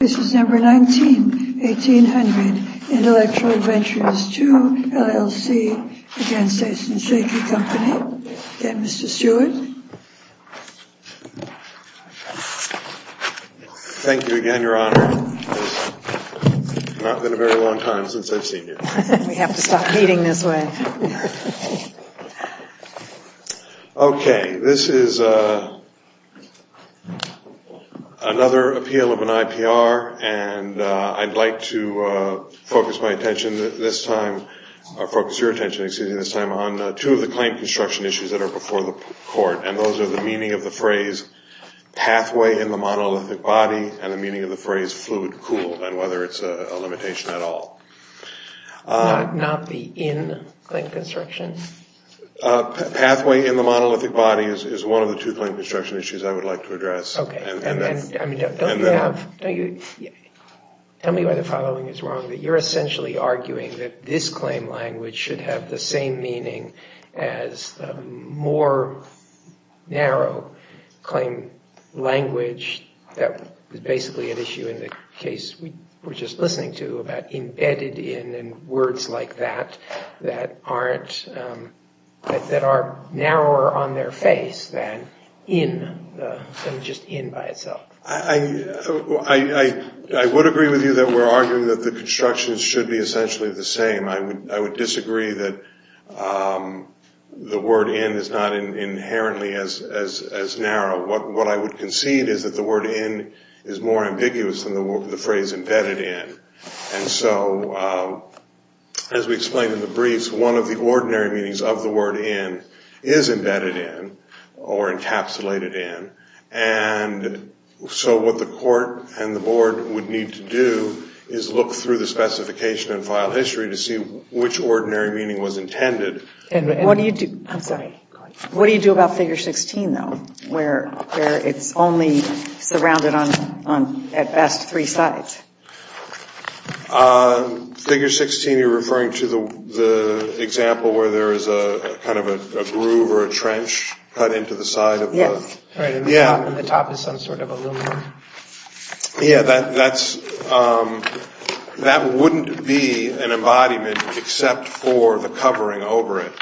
This is number 19, 1800, Intellectual Ventures II LLC v. Aisin Seiki Co., Ltd. Again, Mr. Stewart. Thank you again, Your Honor. It's not been a very long time since I've seen you. We have to stop meeting this way. Okay, this is another appeal of an IPR, and I'd like to focus my attention this time, or focus your attention, excuse me, this time on two of the claim construction issues that are before the court. And those are the meaning of the phrase pathway in the monolithic body, and the meaning of the phrase fluid cooled, and whether it's a limitation at all. Not the in-claim construction? Pathway in the monolithic body is one of the two claim construction issues I would like to address. Okay, and don't you have, tell me why the following is wrong, that you're essentially arguing that this claim language should have the same meaning as the more narrow claim language that was basically an issue in the case we were just listening to about embedded in and words like that that aren't, that are narrower on their face than in, than just in by itself. I would agree with you that we're arguing that the construction should be essentially the same. I would disagree that the word in is not inherently as narrow. What I would concede is that the word in is more ambiguous than the phrase embedded in. And so as we explained in the briefs, one of the ordinary meanings of the word in is embedded in or encapsulated in. And so what the court and the board would need to do is look through the specification and file history to see which ordinary meaning was intended. What do you do, I'm sorry, what do you do about figure 16 though, where it's only surrounded on at best three sides? Figure 16 you're referring to the example where there is a kind of a groove or a trench cut into the side of the. Yes. Yeah. And the top is some sort of aluminum. Yeah, that's, that wouldn't be an embodiment except for the covering over it.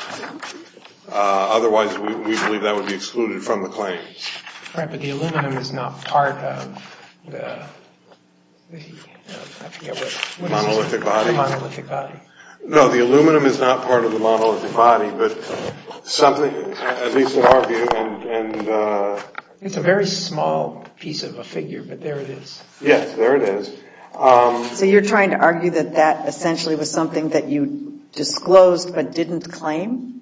Otherwise we believe that would be excluded from the claim. Right, but the aluminum is not part of the, I forget what. The monolithic body. The monolithic body. No, the aluminum is not part of the monolithic body, but something, at least in our view, and. It's a very small piece of a figure, but there it is. Yes, there it is. So you're trying to argue that that essentially was something that you disclosed but didn't claim?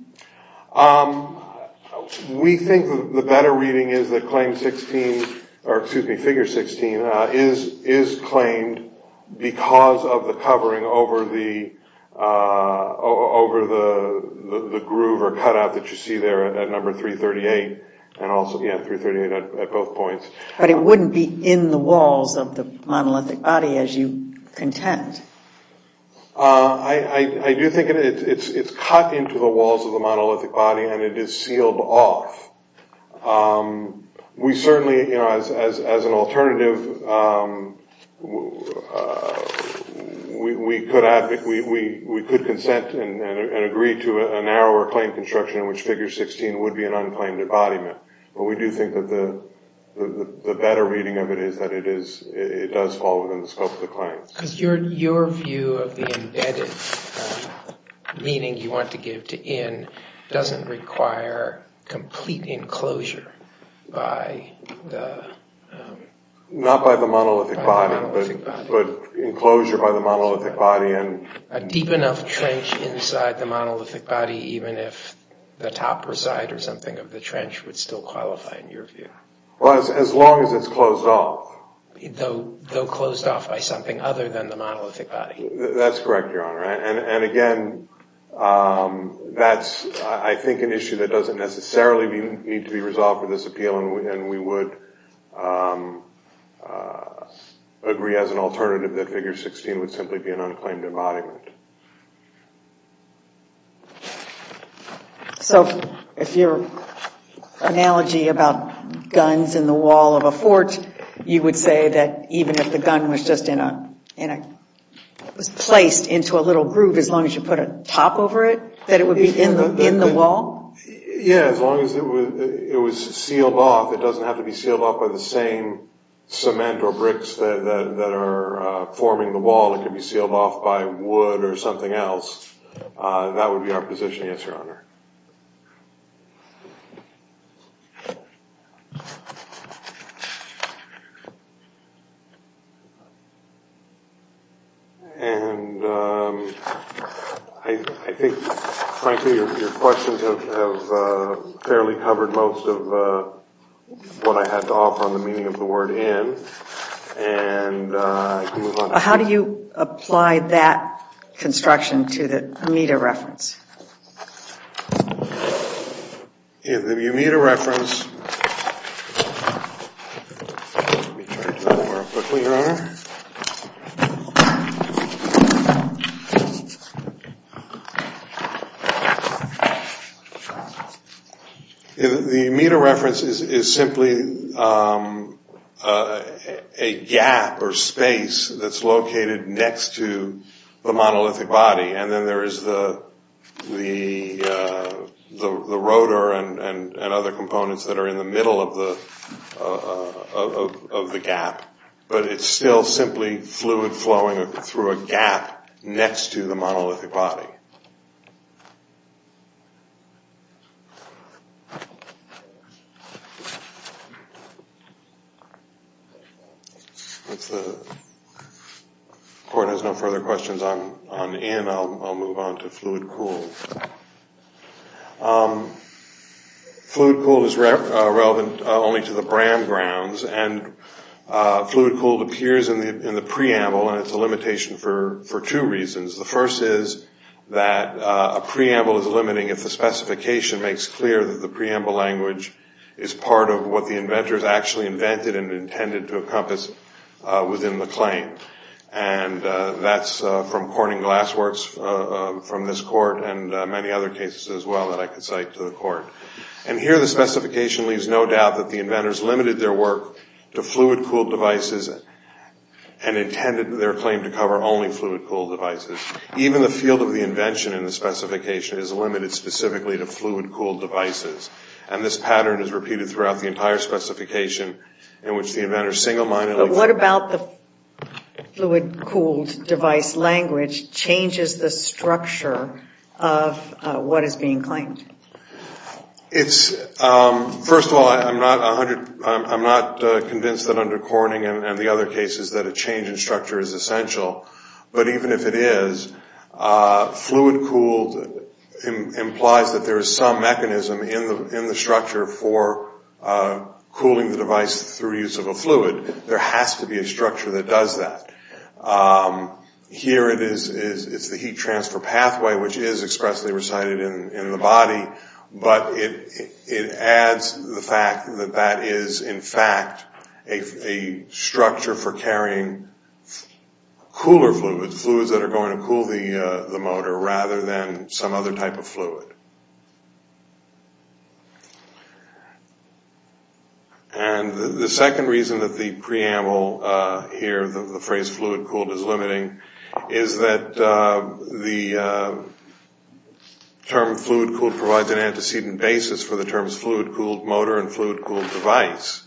We think the better reading is that claim 16, or excuse me, figure 16, is claimed because of the covering over the, over the groove or cut out that you see there at number 338, and also, yeah, 338 at both points. But it wouldn't be in the walls of the monolithic body as you contend. I do think it's cut into the walls of the monolithic body and it is sealed off. We certainly, you know, as an alternative, we could consent and agree to a narrower claim construction in which figure 16 would be an unclaimed embodiment. But we do think that the better reading of it is that it is, it does fall within the scope of the claim. Because your view of the embedded meaning you want to give to in doesn't require complete enclosure by the... Not by the monolithic body, but enclosure by the monolithic body. A deep enough trench inside the monolithic body, even if the topper side or something of the trench would still qualify in your view. Well, as long as it's closed off. Though closed off by something other than the monolithic body. That's correct, Your Honor. And again, that's, I think, an issue that doesn't necessarily need to be resolved for this appeal. And we would agree as an alternative that figure 16 would simply be an unclaimed embodiment. So if your analogy about guns in the wall of a fort, you would say that even if the gun was just in a, it was placed into a little groove, as long as you put a top over it, that it would be in the wall? Yeah, as long as it was sealed off. It doesn't have to be sealed off by the same cement or bricks that are forming the wall. It could be sealed off by wood or something else. That would be our position. Yes, Your Honor. And I think, frankly, your questions have fairly covered most of what I had to offer on the meaning of the word in. How do you apply that construction to the Amita reference? The Amita reference. Let me try to do that more quickly, Your Honor. The Amita reference is simply a gap or space that's located next to the monolithic body. And then there is the rotor and other components that are in the middle of the gap. But it's still simply fluid flowing through a gap next to the monolithic body. If the court has no further questions on in, I'll move on to fluid cooled. Fluid cooled is relevant only to the Bram grounds. And fluid cooled appears in the preamble, and it's a limitation for two reasons. The first is that a preamble is limiting if the specification makes clear that the preamble language is part of what the inventors actually invented and intended to encompass within the claim. And that's from Corning Glass Works from this court and many other cases as well that I could cite to the court. And here the specification leaves no doubt that the inventors limited their work to fluid cooled devices and intended their claim to cover only fluid cooled devices. Even the field of the invention in the specification is limited specifically to fluid cooled devices. And this pattern is repeated throughout the entire specification in which the inventors single-mindedly... First of all, I'm not convinced that under Corning and the other cases that a change in structure is essential. But even if it is, fluid cooled implies that there is some mechanism in the structure for cooling the device through use of a fluid. There has to be a structure that does that. Here it is, it's the heat transfer pathway which is expressly recited in the body, but it adds the fact that that is in fact a structure for carrying cooler fluids, fluids that are going to cool the motor rather than some other type of fluid. And the second reason that the preamble here, the phrase fluid cooled is limiting, is that the term fluid cooled provides an antecedent basis for the terms fluid cooled motor and fluid cooled device.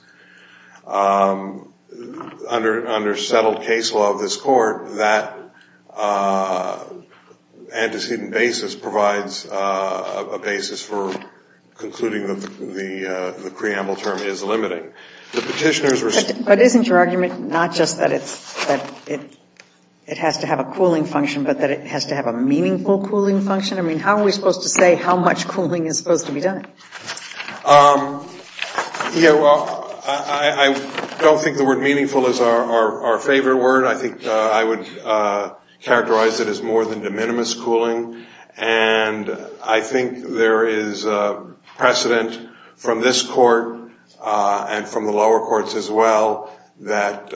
Under settled case law of this court, that antecedent basis provides a basis for concluding that the preamble term is limiting. But isn't your argument not just that it has to have a cooling function, but that it has to have a meaningful cooling function? I mean, how are we supposed to say how much cooling is supposed to be done? Yeah, well, I don't think the word meaningful is our favorite word. I think I would characterize it as more than de minimis cooling, and I think there is precedent from this court and from the lower courts as well that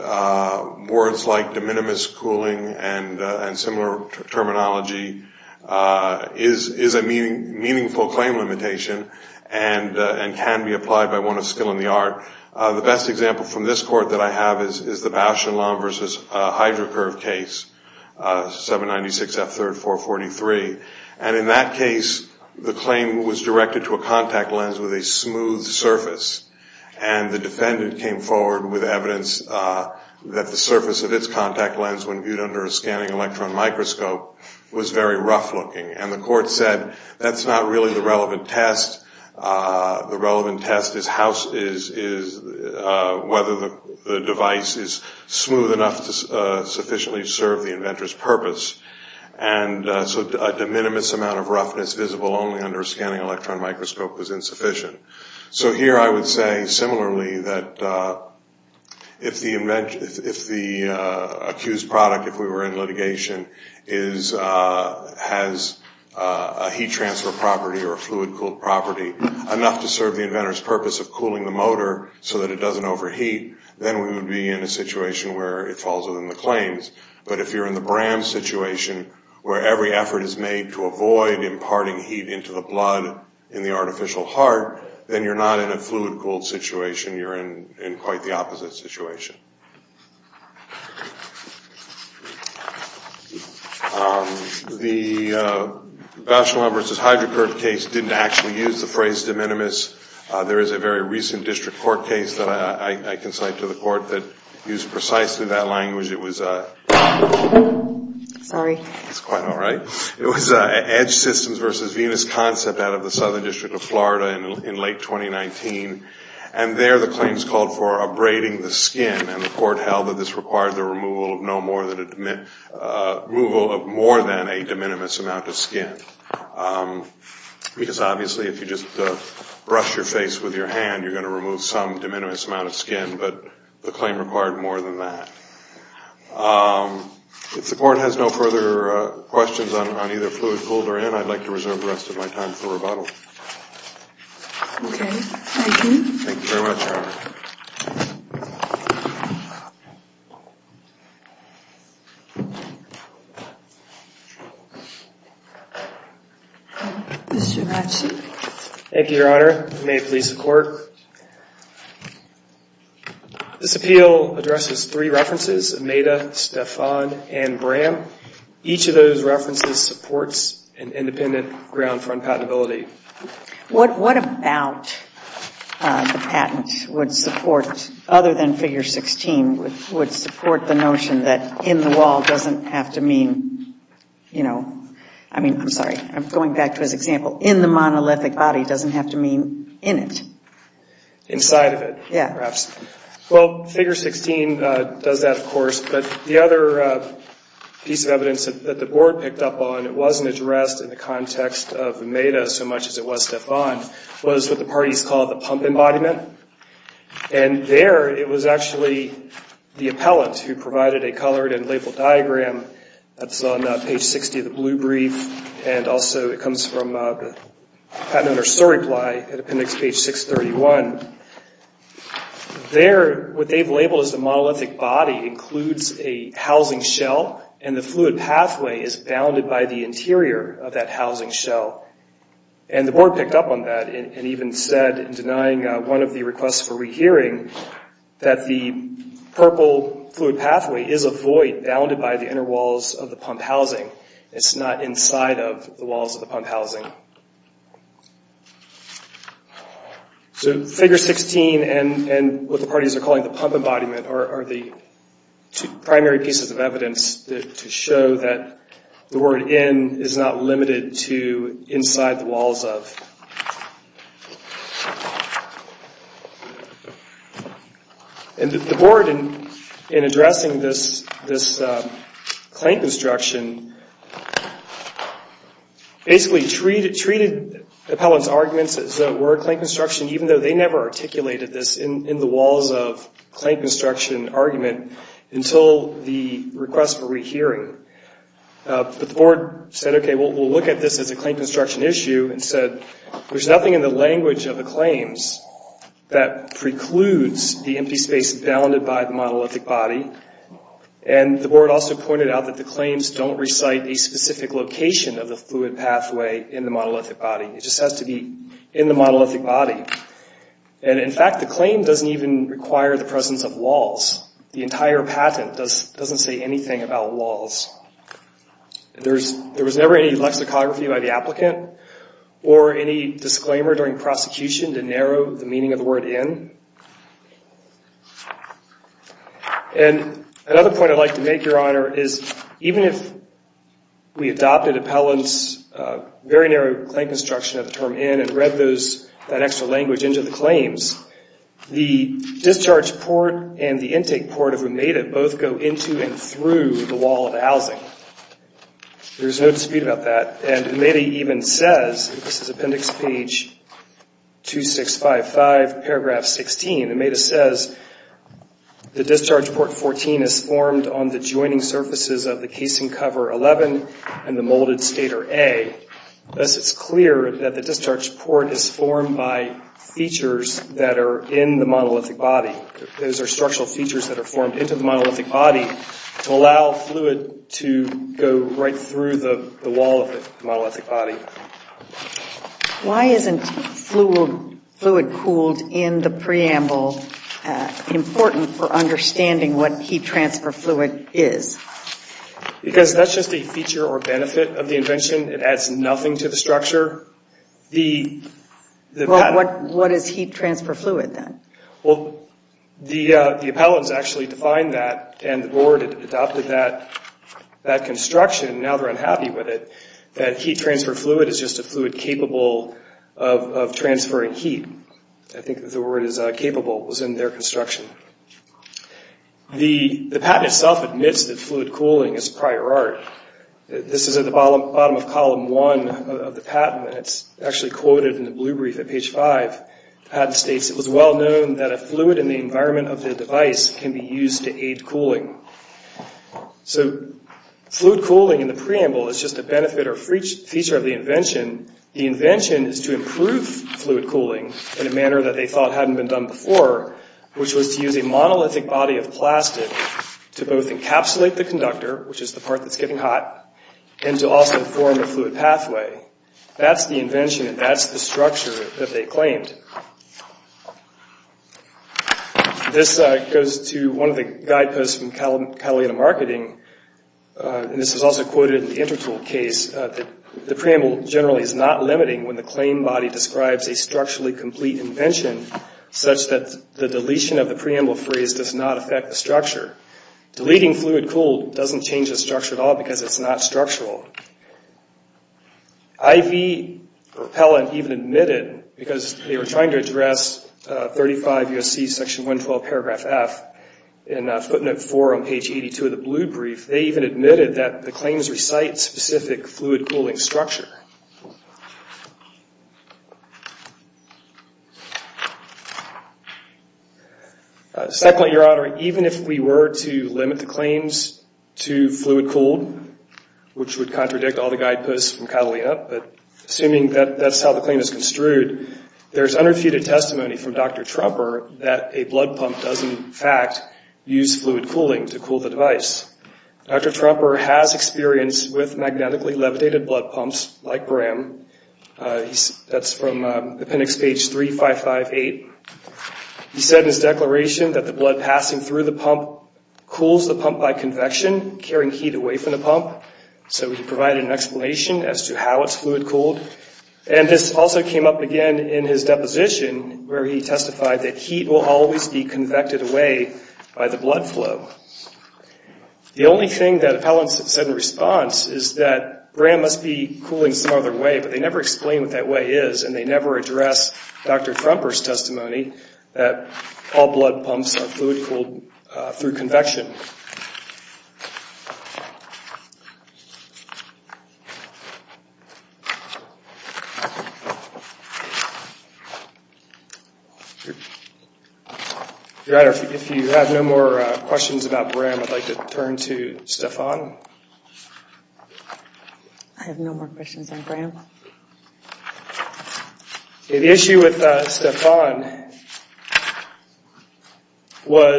words like de minimis cooling and similar terminology is a meaningful claim limitation. And can be applied by one of skill in the art. The best example from this court that I have is the Bausch and Lomb versus HydroCurve case, 796F3-443. And in that case the claim was directed to a contact lens with a smooth surface. And the defendant came forward with evidence that the surface of its contact lens when viewed under a scanning electron microscope was very rough looking. And the court said that's not really the relevant test. The relevant test is whether the device is smooth enough to sufficiently serve the inventor's purpose. And so a de minimis amount of roughness visible only under a scanning electron microscope was insufficient. So here I would say similarly that if the accused product, if we were in litigation, has a heat transfer property or a fluid cooled property enough to serve the inventor's purpose of cooling the motor so that it doesn't overheat, then we would be in a situation where it falls within the claims. But if you're in the Bram situation where every effort is made to avoid imparting heat into the blood in the artificial heart, then you're not in a fluid cooled situation. You're in quite the opposite situation. The Bausch and Lomb versus HydroCurve case didn't actually use the phrase de minimis. There is a very recent district court case that I can cite to the court that used precisely that language. It was Edge Systems versus Venus Concept out of the Southern District of Florida in late 2019. And there the claims called for abrading the skin. And the court held that this required the removal of more than a de minimis amount of skin. Because obviously if you just brush your face with your hand, you're going to remove some de minimis amount of skin. But the claim required more than that. If the court has no further questions on either fluid cooled or in, I'd like to reserve the rest of my time for rebuttal. Okay. Thank you. Thank you very much, Your Honor. Mr. Ratchett. Thank you, Your Honor. May it please the court. This appeal addresses three references, Ameda, Stefan, and Bram. Each of those references supports an independent ground front patentability. What about the patent would support, other than figure 16, would support the notion that in the wall doesn't have to mean, you know, I'm sorry. I'm going back to his example. In the monolithic body doesn't have to mean in it. Inside of it. Yeah. Perhaps. Well, figure 16 does that, of course. But the other piece of evidence that the board picked up on, it wasn't addressed in the context of Ameda so much as it was Stefan, was what the parties called the pump embodiment. And there it was actually the appellant who provided a colored and labeled diagram. That's on page 60 of the blue brief. And also it comes from the patent under story ply at appendix page 631. There, what they've labeled as the monolithic body includes a housing shell. And the fluid pathway is bounded by the interior of that housing shell. And the board picked up on that and even said, denying one of the requests for rehearing, that the purple fluid pathway is a void bounded by the inner walls of the pump housing. It's not inside of the walls of the pump housing. So figure 16 and what the parties are calling the pump embodiment are the two primary pieces of evidence to show that the word in is not limited to inside the walls of. And the board, in addressing this claim construction, basically treated the appellant's arguments as though it were a claim construction, even though they never articulated this in the walls of claim construction argument until the request for rehearing. But the board said, okay, we'll look at this as a claim construction issue and said, there's nothing in the language of the claims that precludes the empty space bounded by the monolithic body. And the board also pointed out that the claims don't recite a specific location of the fluid pathway in the monolithic body. It just has to be in the monolithic body. And in fact, the claim doesn't even require the presence of walls. The entire patent doesn't say anything about walls. There was never any lexicography by the applicant or any disclaimer during prosecution to narrow the meaning of the word in. And another point I'd like to make, Your Honor, is even if we adopted appellant's very narrow claim construction of the term in and read that extra language into the claims, the discharge port and the empty space intake port of Ameda both go into and through the wall of housing. There's no dispute about that. And Ameda even says, this is appendix page 2655, paragraph 16. Ameda says, the discharge port 14 is formed on the joining surfaces of the casing cover 11 and the molded stator A. Thus, it's clear that the discharge port is formed by features that are in the monolithic body. Those are structural features that are formed into the monolithic body to allow fluid to go right through the wall of the monolithic body. Why isn't fluid cooled in the preamble important for understanding what heat transfer fluid is? Because that's just a feature or benefit of the invention. It adds nothing to the structure. Well, what is heat transfer fluid then? Well, the appellant's actually defined that and the board adopted that construction. Now they're unhappy with it, that heat transfer fluid is just a fluid capable of transferring heat. I think the word is capable was in their construction. The patent itself admits that fluid cooling is prior art. This is at the bottom of column one of the patent and it's actually quoted in the blue brief at page five. The patent states, it was well known that a fluid in the environment of the device can be used to aid cooling. So fluid cooling in the preamble is just a benefit or feature of the invention. The invention is to improve fluid cooling in a manner that they thought hadn't been done before, which was to use a monolithic body of plastic to both encapsulate the conductor, which is the part that's getting hot, and to also form a fluid pathway. That's the invention and that's the structure that they claimed. This goes to one of the guideposts from Catalina Marketing. This is also quoted in the Intertool case. The preamble generally is not limiting when the claim body describes a structurally complete invention such that the deletion of the preamble phrase does not affect the structure. Deleting fluid cooled doesn't change the structure at all because it's not structural. IV Repellent even admitted, because they were trying to address 35 U.S.C. section 112 paragraph F in footnote four on page 82 of the blue brief, they even admitted that the claims recite specific fluid cooling structure. Secondly, Your Honor, even if we were to limit the claims to fluid cooled, which would contradict all the guideposts from Catalina, but assuming that that's how the claim is construed, there's unrefuted testimony from Dr. Trumper that a blood pump does, in fact, use fluid cooling to cool the device. Dr. Trumper has experience with magnetically levitated blood pumps like Bram. That's from appendix page 3558. He said in his declaration that the blood passing through the pump cools the pump by convection, carrying heat away from the pump. So he provided an explanation as to how it's fluid cooled. And this also came up again in his deposition, where he testified that heat will always be convected away by the blood flow. The only thing that appellants have said in response is that Bram must be cooling some other way, but they never explain what that way is, and they never address Dr. Trumper's testimony that all blood pumps are fluid cooled through convection. If you have no more questions about Bram, I'd like to turn to Stephon. I have no more questions on Bram. The issue with Stephon was the fact that he was a man who had a lot of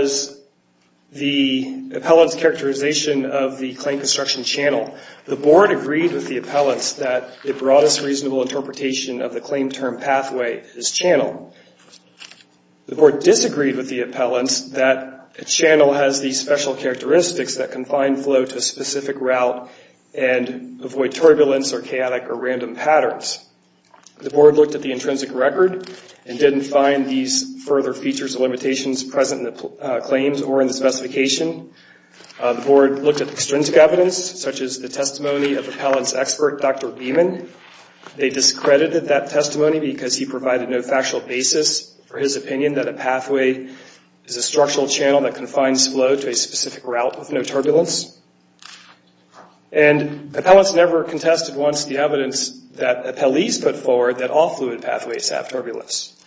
experience with The appellant's characterization of the claim construction channel. The board agreed with the appellants that it brought us reasonable interpretation of the claim term pathway, his channel. The board disagreed with the appellants that a channel has these special characteristics that confine flow to a specific route and avoid turbulence or chaotic or random patterns. The board looked at the intrinsic record and didn't find these further features or limitations present in the claims or in the specification. The board looked at extrinsic evidence, such as the testimony of appellant's expert, Dr. Beeman. They discredited that testimony because he provided no factual basis for his opinion that a pathway is a structural channel that confines flow to a specific route with no turbulence. And appellants never contested once the evidence that appellees put forward that all fluid pathways have turbulence.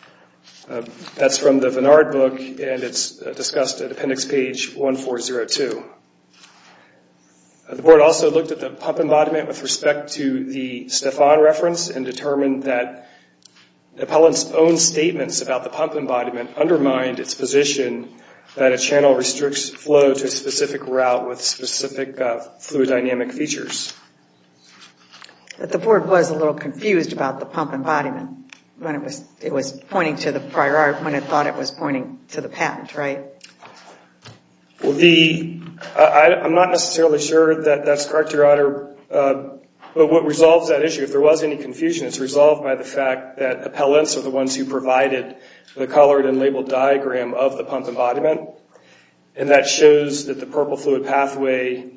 That's from the Vennard book and it's discussed at appendix page 1402. The board also looked at the pump embodiment with respect to the Stephon reference and determined that appellant's own statements about the pump embodiment undermined its position that a channel restricts flow to a specific route with specific fluid dynamic features. But the board was a little confused about the pump embodiment when it was pointing to the patent, right? I'm not necessarily sure that that's correct, Your Honor. But what resolves that issue, if there was any confusion, it's resolved by the fact that appellants are the ones who provided the colored and labeled diagram of the pump embodiment. And that shows that the purple fluid pathway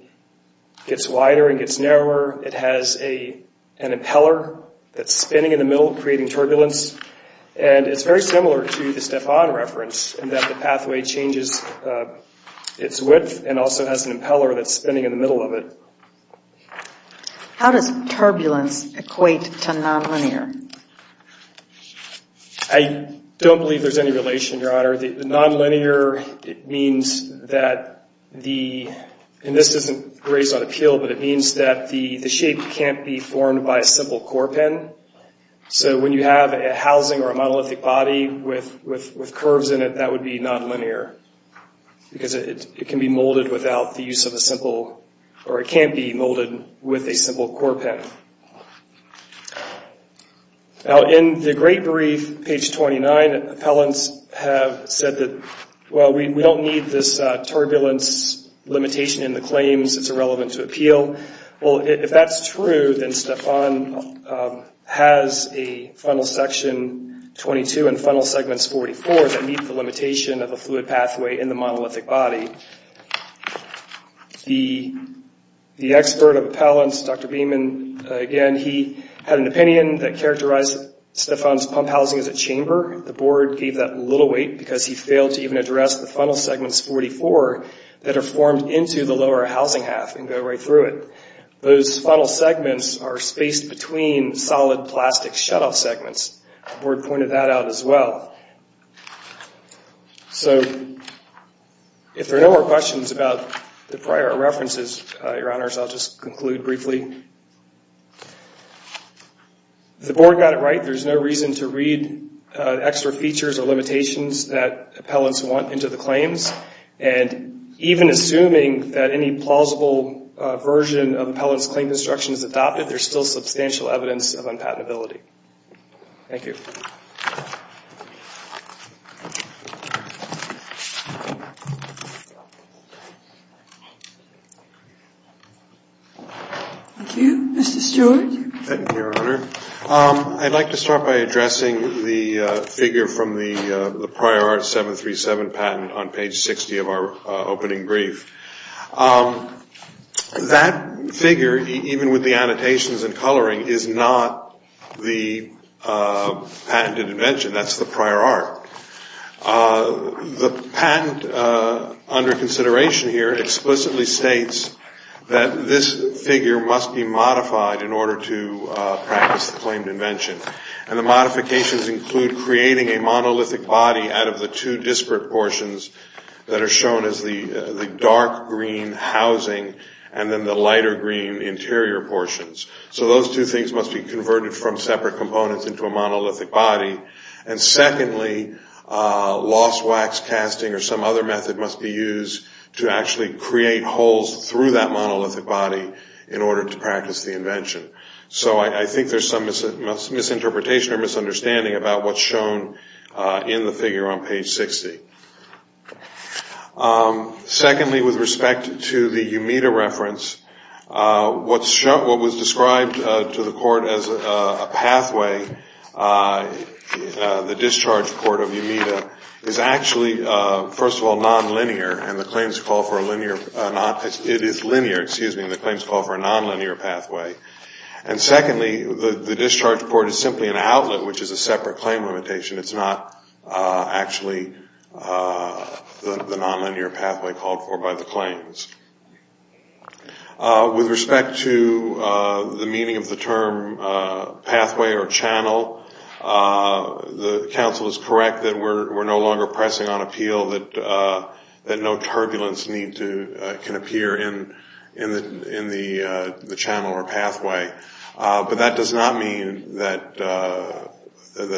gets wider and gets narrower. It has an impeller that's spinning in the middle, creating turbulence. And it's very similar to the Stephon reference in that the pathway changes its width and also has an impeller that's spinning in the middle of it. How does turbulence equate to nonlinear? I don't believe there's any relation, Your Honor. Nonlinear means that the, and this isn't grazed on appeal, but it means that the shape can't be formed by a simple core pin. So when you have a housing or a monolithic body with curves in it, that would be nonlinear. Because it can be molded without the use of a simple, or it can't be molded with a simple core pin. Now, in the great brief, page 29, appellants have said that, well, we don't need this turbulence limitation in the claims. It's irrelevant to appeal. Well, if that's true, then Stephon has a funnel section 22 and funnel segments 44 that meet the limitation of a fluid pathway in the monolithic body. The expert appellant, Dr. Beeman, again, he had an opinion that characterized Stephon's pump housing as a chamber. The board gave that little weight because he failed to even address the funnel segments 44 that are formed into the lower housing half and go right through it. Those funnel segments are spaced between solid plastic shutoff segments. The board pointed that out as well. So if there are no more questions about the prior references, Your Honors, I'll just conclude briefly. If the board got it right, there's no reason to read extra features or limitations that appellants want into the claims. And even assuming that any plausible version of appellant's claim construction is adopted, there's still substantial evidence of unpatentability. Thank you. Thank you, Mr. Stewart. Thank you, Your Honor. I'd like to start by addressing the figure from the Prior Art 737 patent on page 60 of our opening brief. That figure, even with the annotations and coloring, is not the patented invention. That's the Prior Art 737 patent. The patent under consideration here explicitly states that this figure must be modified in order to practice the claimed invention. And the modifications include creating a monolithic body out of the two disparate portions that are shown as the dark green housing and then the lighter green interior portions. So those two things must be converted from separate components into a monolithic body. And secondly, lost wax casting or some other method must be used to actually create holes through that monolithic body in order to practice the invention. So I think there's some misinterpretation or misunderstanding about what's shown in the figure on page 60. Secondly, with respect to the Umeda reference, what was described to the court as a pathway, the discharge port of Umeda, is actually, first of all, nonlinear, and the claims call for a nonlinear pathway. And secondly, the discharge port is simply an outlet, which is a separate claim limitation. It's not actually the nonlinear pathway called for by the claims. With respect to the meaning of the term pathway or channel, the counsel is correct that we're no longer pressing on appeal, that no turbulence can appear in the channel or pathway. But that does not mean that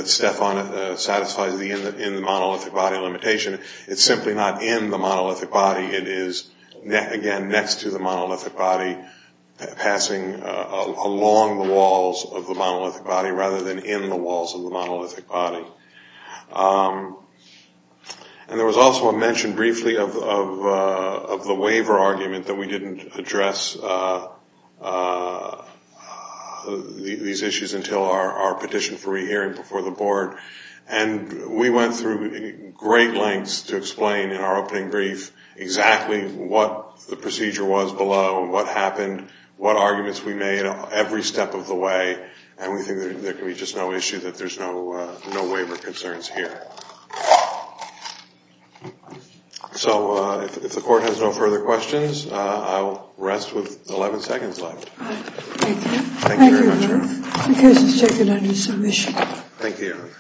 Stefan satisfies the in the monolithic body limitation. It's simply not in the monolithic body. It is, again, next to the monolithic body, passing along the walls of the monolithic body rather than in the walls of the monolithic body. And there was also a mention briefly of the waiver argument, that we didn't address these issues until our petition for rehearing before the board. And we went through great lengths to explain in our opening brief exactly what the procedure was below and what happened, what arguments we made every step of the way. And we think there can be just no issue that there's no waiver concerns here. So if the court has no further questions, I will rest with 11 seconds left. Thank you. Thank you, Ruth. The case is taken under submission. Thank you.